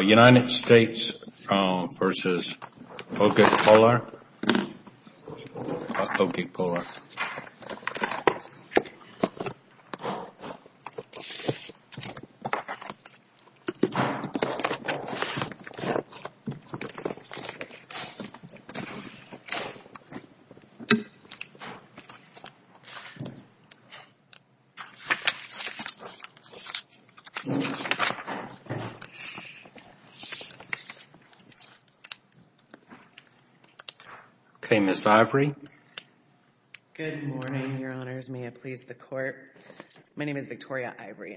United States v. Ogiekpolor Victoria Ivory On November 13, 2021,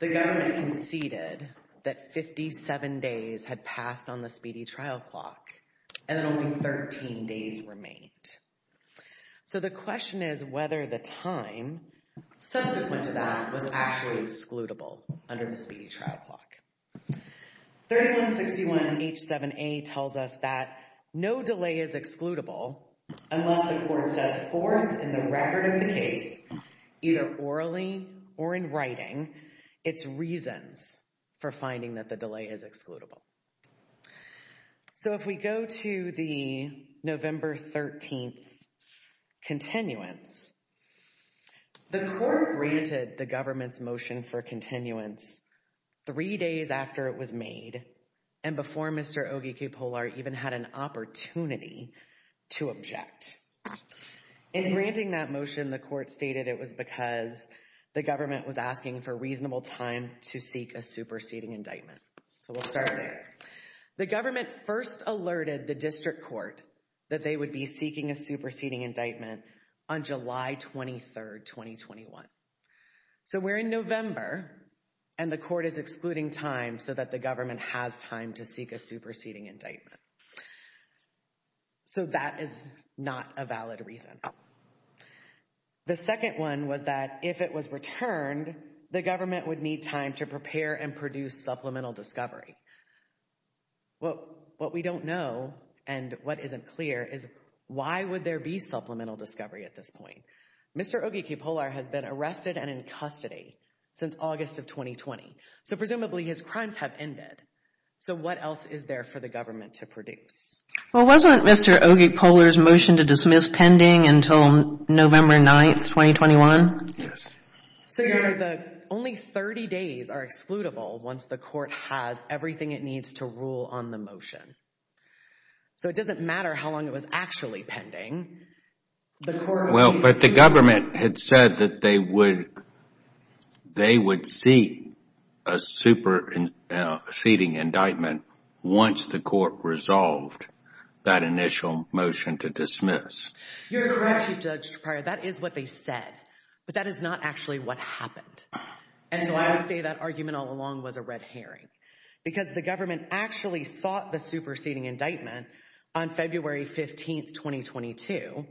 the government conceded that 57 days had passed on the speedy trial clock and that only 13 days remained. So the question is whether the time subsequent to that was actually excludable under the speedy trial clock. 3161 H7A tells us that no delay is excludable unless the court sets forth in the record of the case, either orally or in writing, its reasons for finding that the delay is excludable. So if we go to the November 13th continuance, the court granted the government's motion for continuance three days after it was made and before Mr. Ogiekpolor even had an opportunity to object. In granting that motion, the court stated it was because the government was asking for reasonable time to seek a superseding indictment. So we'll start there. The government first alerted the district court that they would be seeking a superseding indictment on July 23rd, 2021. So we're in November and the court is excluding time so that the government has time to seek a superseding indictment. So that is not a valid reason. The second one was that if it was returned, the government would need time to prepare and produce supplemental discovery. What we don't know and what isn't clear is why would there be supplemental discovery at this point? Mr. Ogiekpolor has been arrested and in custody since August of 2020. So presumably his crimes have ended. So what else is there for the government to produce? Well, wasn't Mr. Ogiekpolor's motion to dismiss pending until November 9th, 2021? Yes. So only 30 days are excludable once the court has everything it needs to rule on the motion. So it doesn't matter how long it was actually pending. Well, but the government had said that they would seek a superseding indictment once the court resolved that initial motion to dismiss. You're correct, Chief Judge Pryor. That is what they said. But that is not actually what happened. And so I would say that argument all along was a red herring. Because the government actually sought the superseding indictment on February 15th, 2022.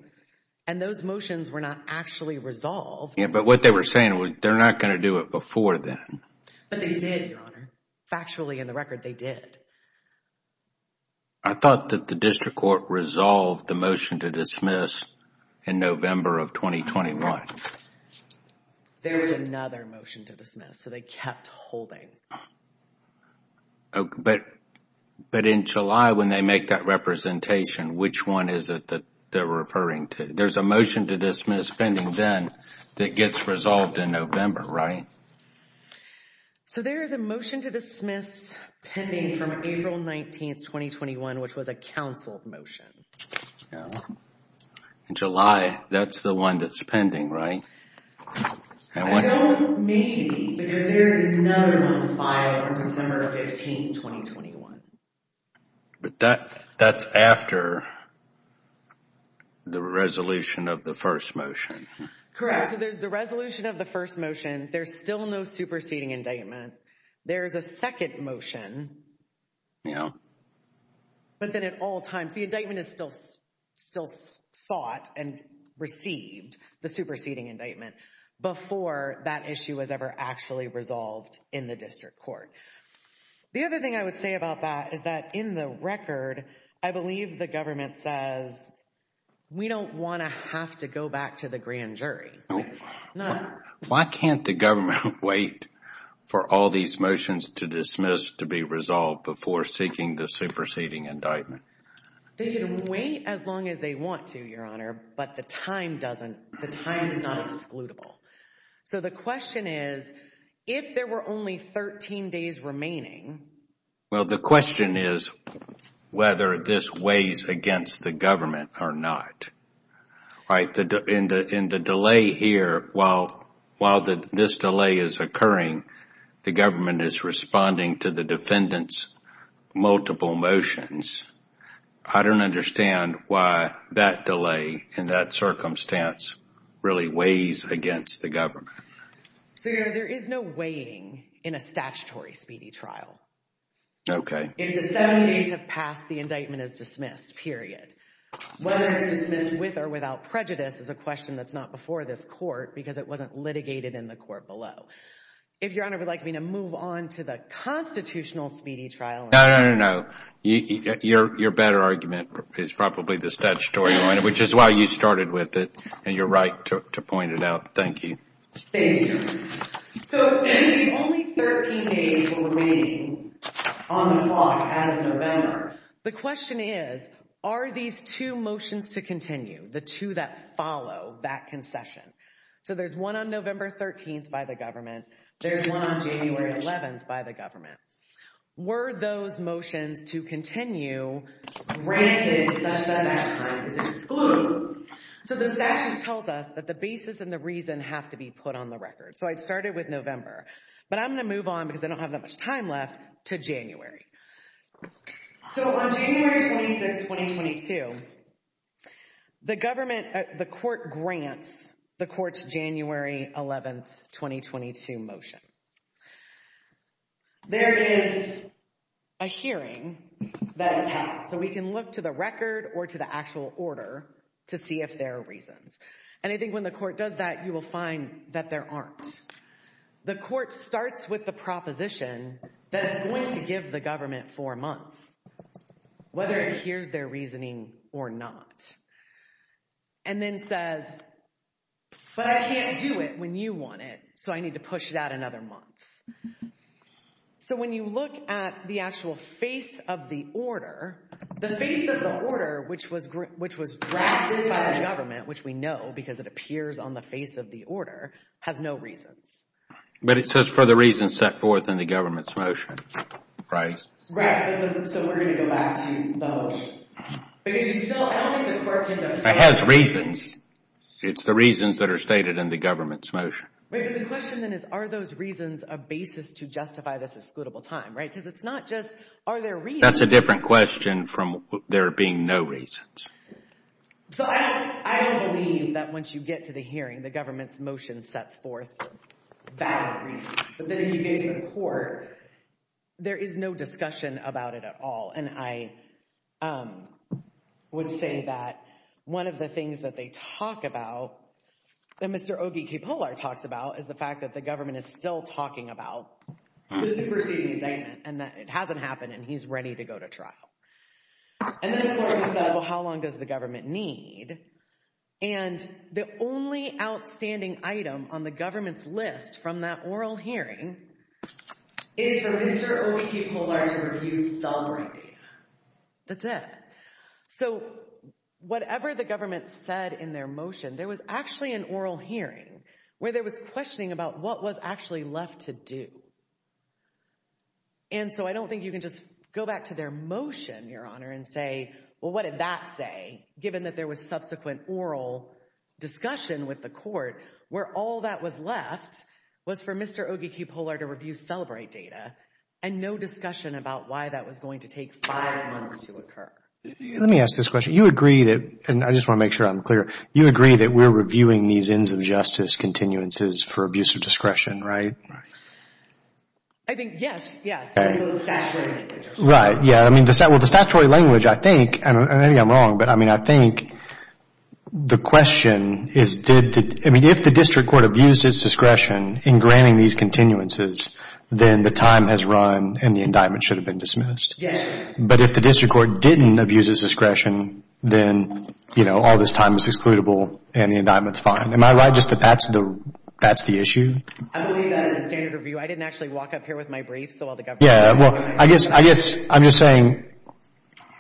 And those motions were not actually resolved. But what they were saying was they're not going to do it before then. But they did, Your Honor. Factually, in the record, they did. I thought that the district court resolved the motion to dismiss in November of 2021. There was another motion to dismiss, so they kept holding. But in July, when they make that representation, which one is it that they're referring to? There's a motion to dismiss pending then that gets resolved in November, right? So there is a motion to dismiss pending from April 19th, 2021, which was a counseled motion. In July, that's the one that's pending, right? I don't know. Maybe. Because there's another one filed on December 15th, 2021. But that's after the resolution of the first motion. Correct. So there's the resolution of the first motion. There's still no superseding indictment. There's a second motion. But then at all times, the indictment is still sought and received, the superseding indictment, before that issue was ever actually resolved in the district court. The other thing I would say about that is that in the record, I believe the government says, we don't want to have to go back to the grand jury. Why can't the government wait for all these motions to dismiss to be resolved before seeking the superseding indictment? They can wait as long as they want to, Your Honor, but the time doesn't, the time is not excludable. So the question is, if there were only 13 days remaining. Well, the question is whether this weighs against the government or not. In the delay here, while this delay is occurring, the government is responding to the defendant's multiple motions. I don't understand why that delay in that circumstance really weighs against the government. So, Your Honor, there is no weighing in a statutory speedy trial. Okay. If the seven days have passed, the indictment is dismissed, period. Whether it's dismissed with or without prejudice is a question that's not before this court, because it wasn't litigated in the court below. If Your Honor would like me to move on to the constitutional speedy trial. No, no, no, no. Your better argument is probably the statutory one, which is why you started with it, and you're right to point it out. Thank you. Thank you. So if there is only 13 days remaining on the clock out of November, the question is, are these two motions to continue, the two that follow that concession? So there's one on November 13th by the government. There's one on January 11th by the government. Were those motions to continue granted such that that time is excluded? So the statute tells us that the basis and the reason have to be put on the record. So I started with November, but I'm going to move on because I don't have that much time left to January. So on January 26th, 2022, the government, the court grants the court's January 11th, 2022 motion. There is a hearing that is held, so we can look to the record or to the actual order to see if there are reasons. And I think when the court does that, you will find that there aren't. The court starts with the proposition that it's going to give the government four months, whether it adheres to their reasoning or not, and then says, but I can't do it when you want it, so I need to push it out another month. So when you look at the actual face of the order, the face of the order, which was drafted by the government, which we know because it appears on the face of the order, has no reasons. But it says for the reasons set forth in the government's motion, right? Right, so we're going to go back to the motion. Because you still, I don't think the court can defer. It has reasons. It's the reasons that are stated in the government's motion. But the question then is, are those reasons a basis to justify this excludable time, right? Because it's not just, are there reasons? That's a different question from there being no reasons. So I don't believe that once you get to the hearing, the government's motion sets forth valid reasons. But then if you get to the court, there is no discussion about it at all. And I would say that one of the things that they talk about, that Mr. Ogie K. Pollard talks about, is the fact that the government is still talking about the superseding indictment, and that it hasn't happened, and he's ready to go to trial. And then the court says, well, how long does the government need? And the only outstanding item on the government's list from that oral hearing is for Mr. Ogie K. Pollard to review sovereign data. That's it. So whatever the government said in their motion, there was actually an oral hearing where there was questioning about what was actually left to do. And so I don't think you can just go back to their motion, Your Honor, and say, well, what did that say, given that there was subsequent oral discussion with the court, where all that was left was for Mr. Ogie K. Pollard to review celebrate data, and no discussion about why that was going to take five months to occur. Let me ask this question. You agree that, and I just want to make sure I'm clear, you agree that we're reviewing these ends of justice continuances for abuse of discretion, right? I think, yes, yes. Statutory language. Right. Yeah, I mean, well, the statutory language, I think, and maybe I'm wrong, but I mean, I think the question is did the, I mean, if the district court abused its discretion in granting these continuances, then the time has run and the indictment should have been dismissed. Yes. But if the district court didn't abuse its discretion, then, you know, all this time is excludable and the indictment's fine. Am I right just that that's the issue? I believe that as a standard review. I didn't actually walk up here with my briefs, though, while the government was reviewing them. Yeah, well, I guess I'm just saying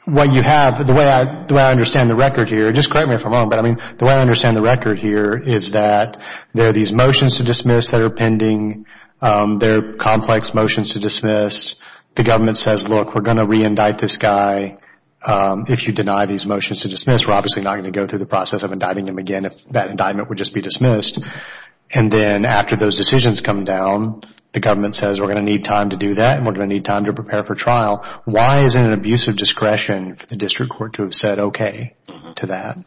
what you have, the way I understand the record here, just correct me if I'm wrong, but I mean, the way I understand the record here is that there are these motions to dismiss that are pending. There are complex motions to dismiss. The government says, look, we're going to reindict this guy. If you deny these motions to dismiss, we're obviously not going to go through the process of indicting him again if that indictment would just be dismissed. And then after those decisions come down, the government says we're going to need time to do that, and we're going to need time to prepare for trial. Why is it an abuse of discretion for the district court to have said okay to that?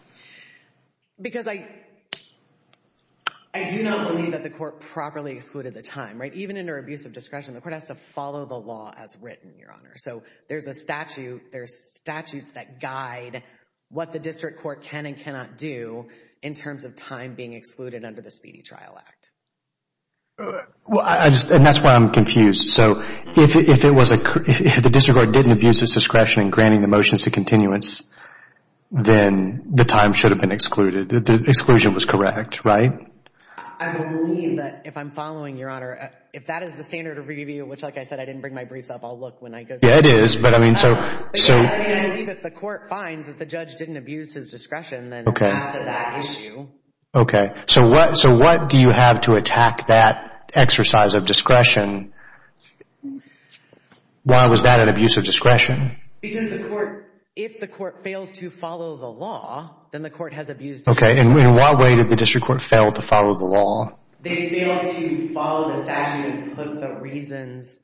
Because I do not believe that the court properly excluded the time, right? Even under abuse of discretion, the court has to follow the law as written, Your Honor. So there's a statute, there's statutes that guide what the district court can and cannot do in terms of time being excluded under the Speedy Trial Act. And that's why I'm confused. So if the district court didn't abuse its discretion in granting the motions to continuance, then the time should have been excluded. The exclusion was correct, right? I believe that if I'm following, Your Honor, if that is the standard of review, which like I said, I didn't bring my briefs up. I'll look when I go see it. Yeah, it is. But I mean, so. I believe if the court finds that the judge didn't abuse his discretion, then it adds to that issue. Okay. So what do you have to attack that exercise of discretion? Why was that an abuse of discretion? Because the court, if the court fails to follow the law, then the court has abused discretion. Okay. In what way did the district court fail to follow the law? They failed to follow the statute and put the reasons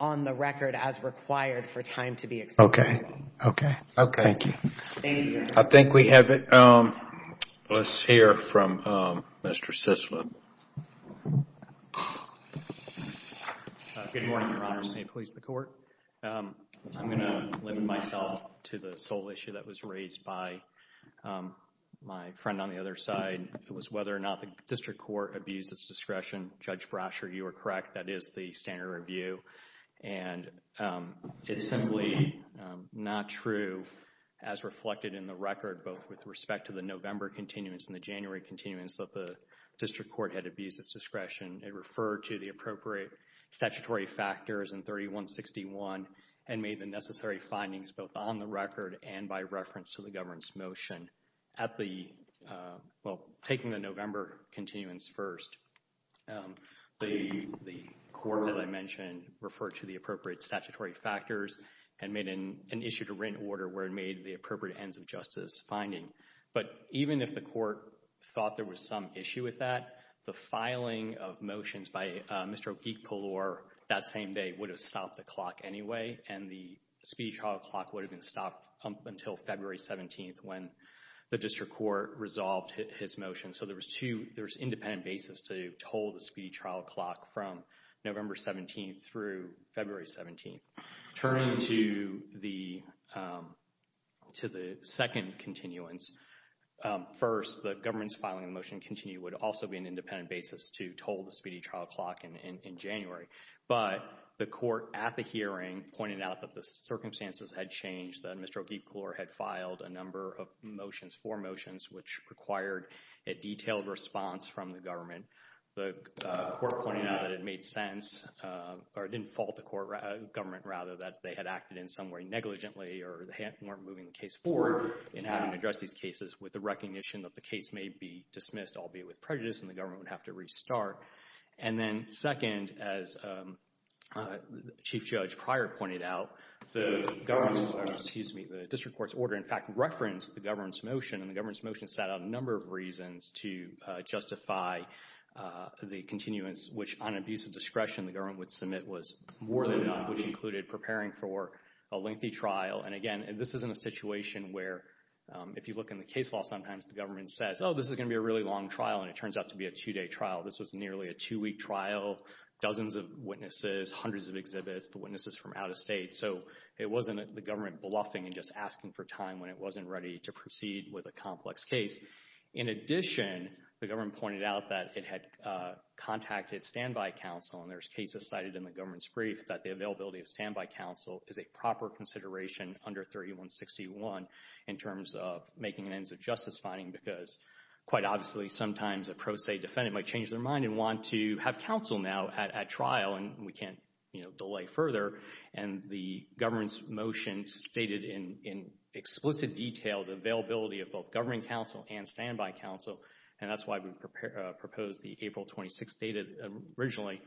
on the record as required for time to be excluded. Okay. Okay. Okay. Thank you. Thank you, Your Honor. I think we have it. Let's hear from Mr. Cicilla. Good morning, Your Honors. May it please the Court. I'm going to limit myself to the sole issue that was raised by my friend on the other side. It was whether or not the district court abused its discretion. Judge Brasher, you are correct. That is the standard of review. And it's simply not true as reflected in the record both with respect to the November continuance and the January continuance that the district court had abused its discretion. It referred to the appropriate statutory factors in 3161 and made the necessary findings both on the record and by reference to the governance motion at the, well, taking the November continuance first. The court, as I mentioned, referred to the appropriate statutory factors and made an issue to written order where it made the appropriate ends of justice finding. But even if the court thought there was some issue with that, the filing of motions by Mr. O'Keeffe-Kellore that same day would have stopped the clock anyway and the speedy trial clock would have been stopped until February 17th when the district court resolved his motion. So there was two, there was independent basis to toll the speedy trial clock from November 17th through February 17th. Turning to the second continuance, first, the governance filing motion continue would also be an independent basis to toll the speedy trial clock in January. But the court at the hearing pointed out that the circumstances had changed, that Mr. O'Keeffe-Kellore had filed a number of motions, four motions, which required a detailed response from the government. The court pointed out that it made sense, or it didn't fault the government rather, that they had acted in some way negligently or weren't moving the case forward in having to address these cases with the recognition that the case may be dismissed, albeit with prejudice, and the government would have to restart. And then second, as Chief Judge Pryor pointed out, the district court's order in fact referenced the government's motion and the government's motion set out a number of reasons to justify the continuance, which on abuse of discretion the government would submit was more than done, which included preparing for a lengthy trial. And again, this is in a situation where if you look in the case law sometimes the government says, oh, this is going to be a really long trial, and it turns out to be a two-day trial. This was nearly a two-week trial, dozens of witnesses, hundreds of exhibits, the witnesses from out of state. So it wasn't the government bluffing and just asking for time when it wasn't ready to proceed with a complex case. In addition, the government pointed out that it had contacted standby counsel, and there's cases cited in the government's brief that the availability of standby counsel is a proper consideration under 3161 in terms of making ends of justice finding because quite obviously sometimes a pro se defendant might change their mind and want to have counsel now at trial, and we can't delay further. And the government's motion stated in explicit detail the availability of both governing counsel and standby counsel, and that's why we proposed the April 26th data originally.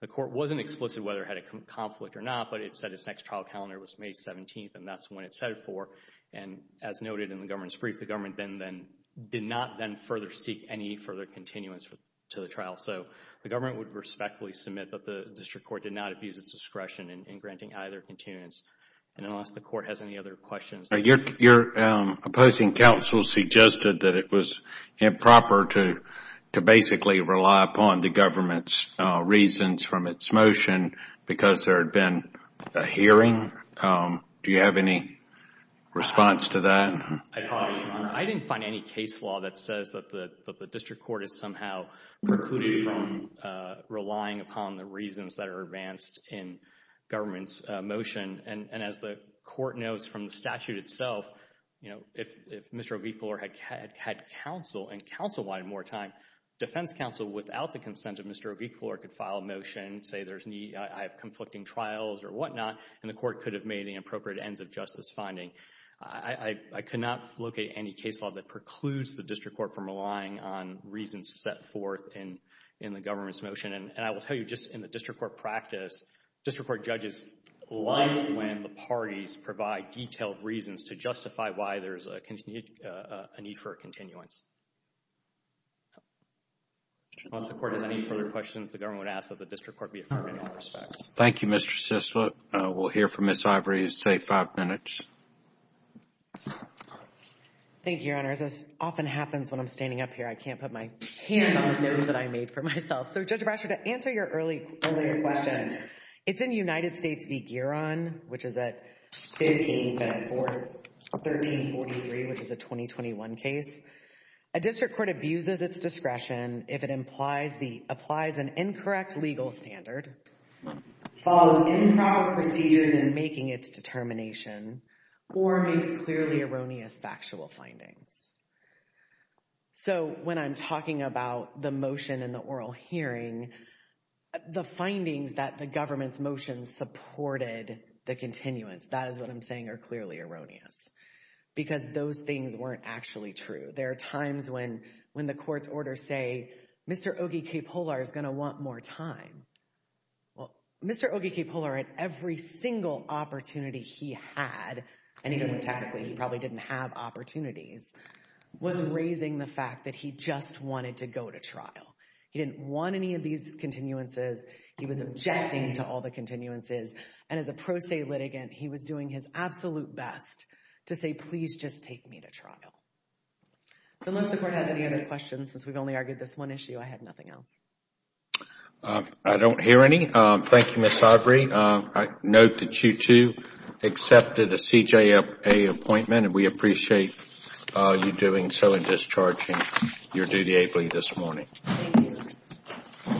The court wasn't explicit whether it had a conflict or not, but it said its next trial calendar was May 17th, and that's when it said it for, and as noted in the government's brief, the government then did not then further seek any further continuance to the trial. So the government would respectfully submit that the district court did not abuse its discretion in granting either continuance. And unless the court has any other questions. Your opposing counsel suggested that it was improper to basically rely upon the government's reasons from its motion because there had been a hearing. Do you have any response to that? I apologize, Your Honor. I didn't find any case law that says that the district court has somehow precluded from relying upon the reasons that are advanced in government's motion. And as the court knows from the statute itself, you know, if Mr. O'Brien Fuller had counsel and counsel wanted more time, defense counsel without the consent of Mr. O'Brien Fuller could file a motion, say I have conflicting trials or whatnot, and the court could have made the appropriate ends of justice finding. I could not locate any case law that precludes the district court from relying on reasons set forth in the government's motion. And I will tell you just in the district court practice, district court judges like when the parties provide detailed reasons to justify why there's a need for a continuance. Unless the court has any further questions, the government would ask that the district court be affirmed in all respects. Thank you, Mr. Sisloot. We'll hear from Ms. Ivory in, say, five minutes. Thank you, Your Honor. As often happens when I'm standing up here, I can't put my hand on the note that I made for myself. So, Judge Brasher, to answer your earlier question, it's in United States v. Gueron, which is at 15-4, 1343, which is a 2021 case. A district court abuses its discretion if it applies an incorrect legal standard, follows improper procedures in making its determination, or makes clearly erroneous factual findings. So, when I'm talking about the motion in the oral hearing, the findings that the government's motion supported the continuance, that is what I'm saying, are clearly erroneous. Because those things weren't actually true. There are times when the court's orders say, Mr. Ogi K. Polar is going to want more time. Well, Mr. Ogi K. Polar, at every single opportunity he had, and even when technically he probably didn't have opportunities, was raising the fact that he just wanted to go to trial. He didn't want any of these continuances. He was objecting to all the continuances. And as a pro se litigant, he was doing his absolute best to say, please just take me to trial. So, unless the court has any other questions, since we've only argued this one issue, I have nothing else. I don't hear any. Thank you, Ms. Aubrey. I note that you, too, accepted a CJA appointment, and we appreciate you doing so and discharging your duty ably this morning. Thank you.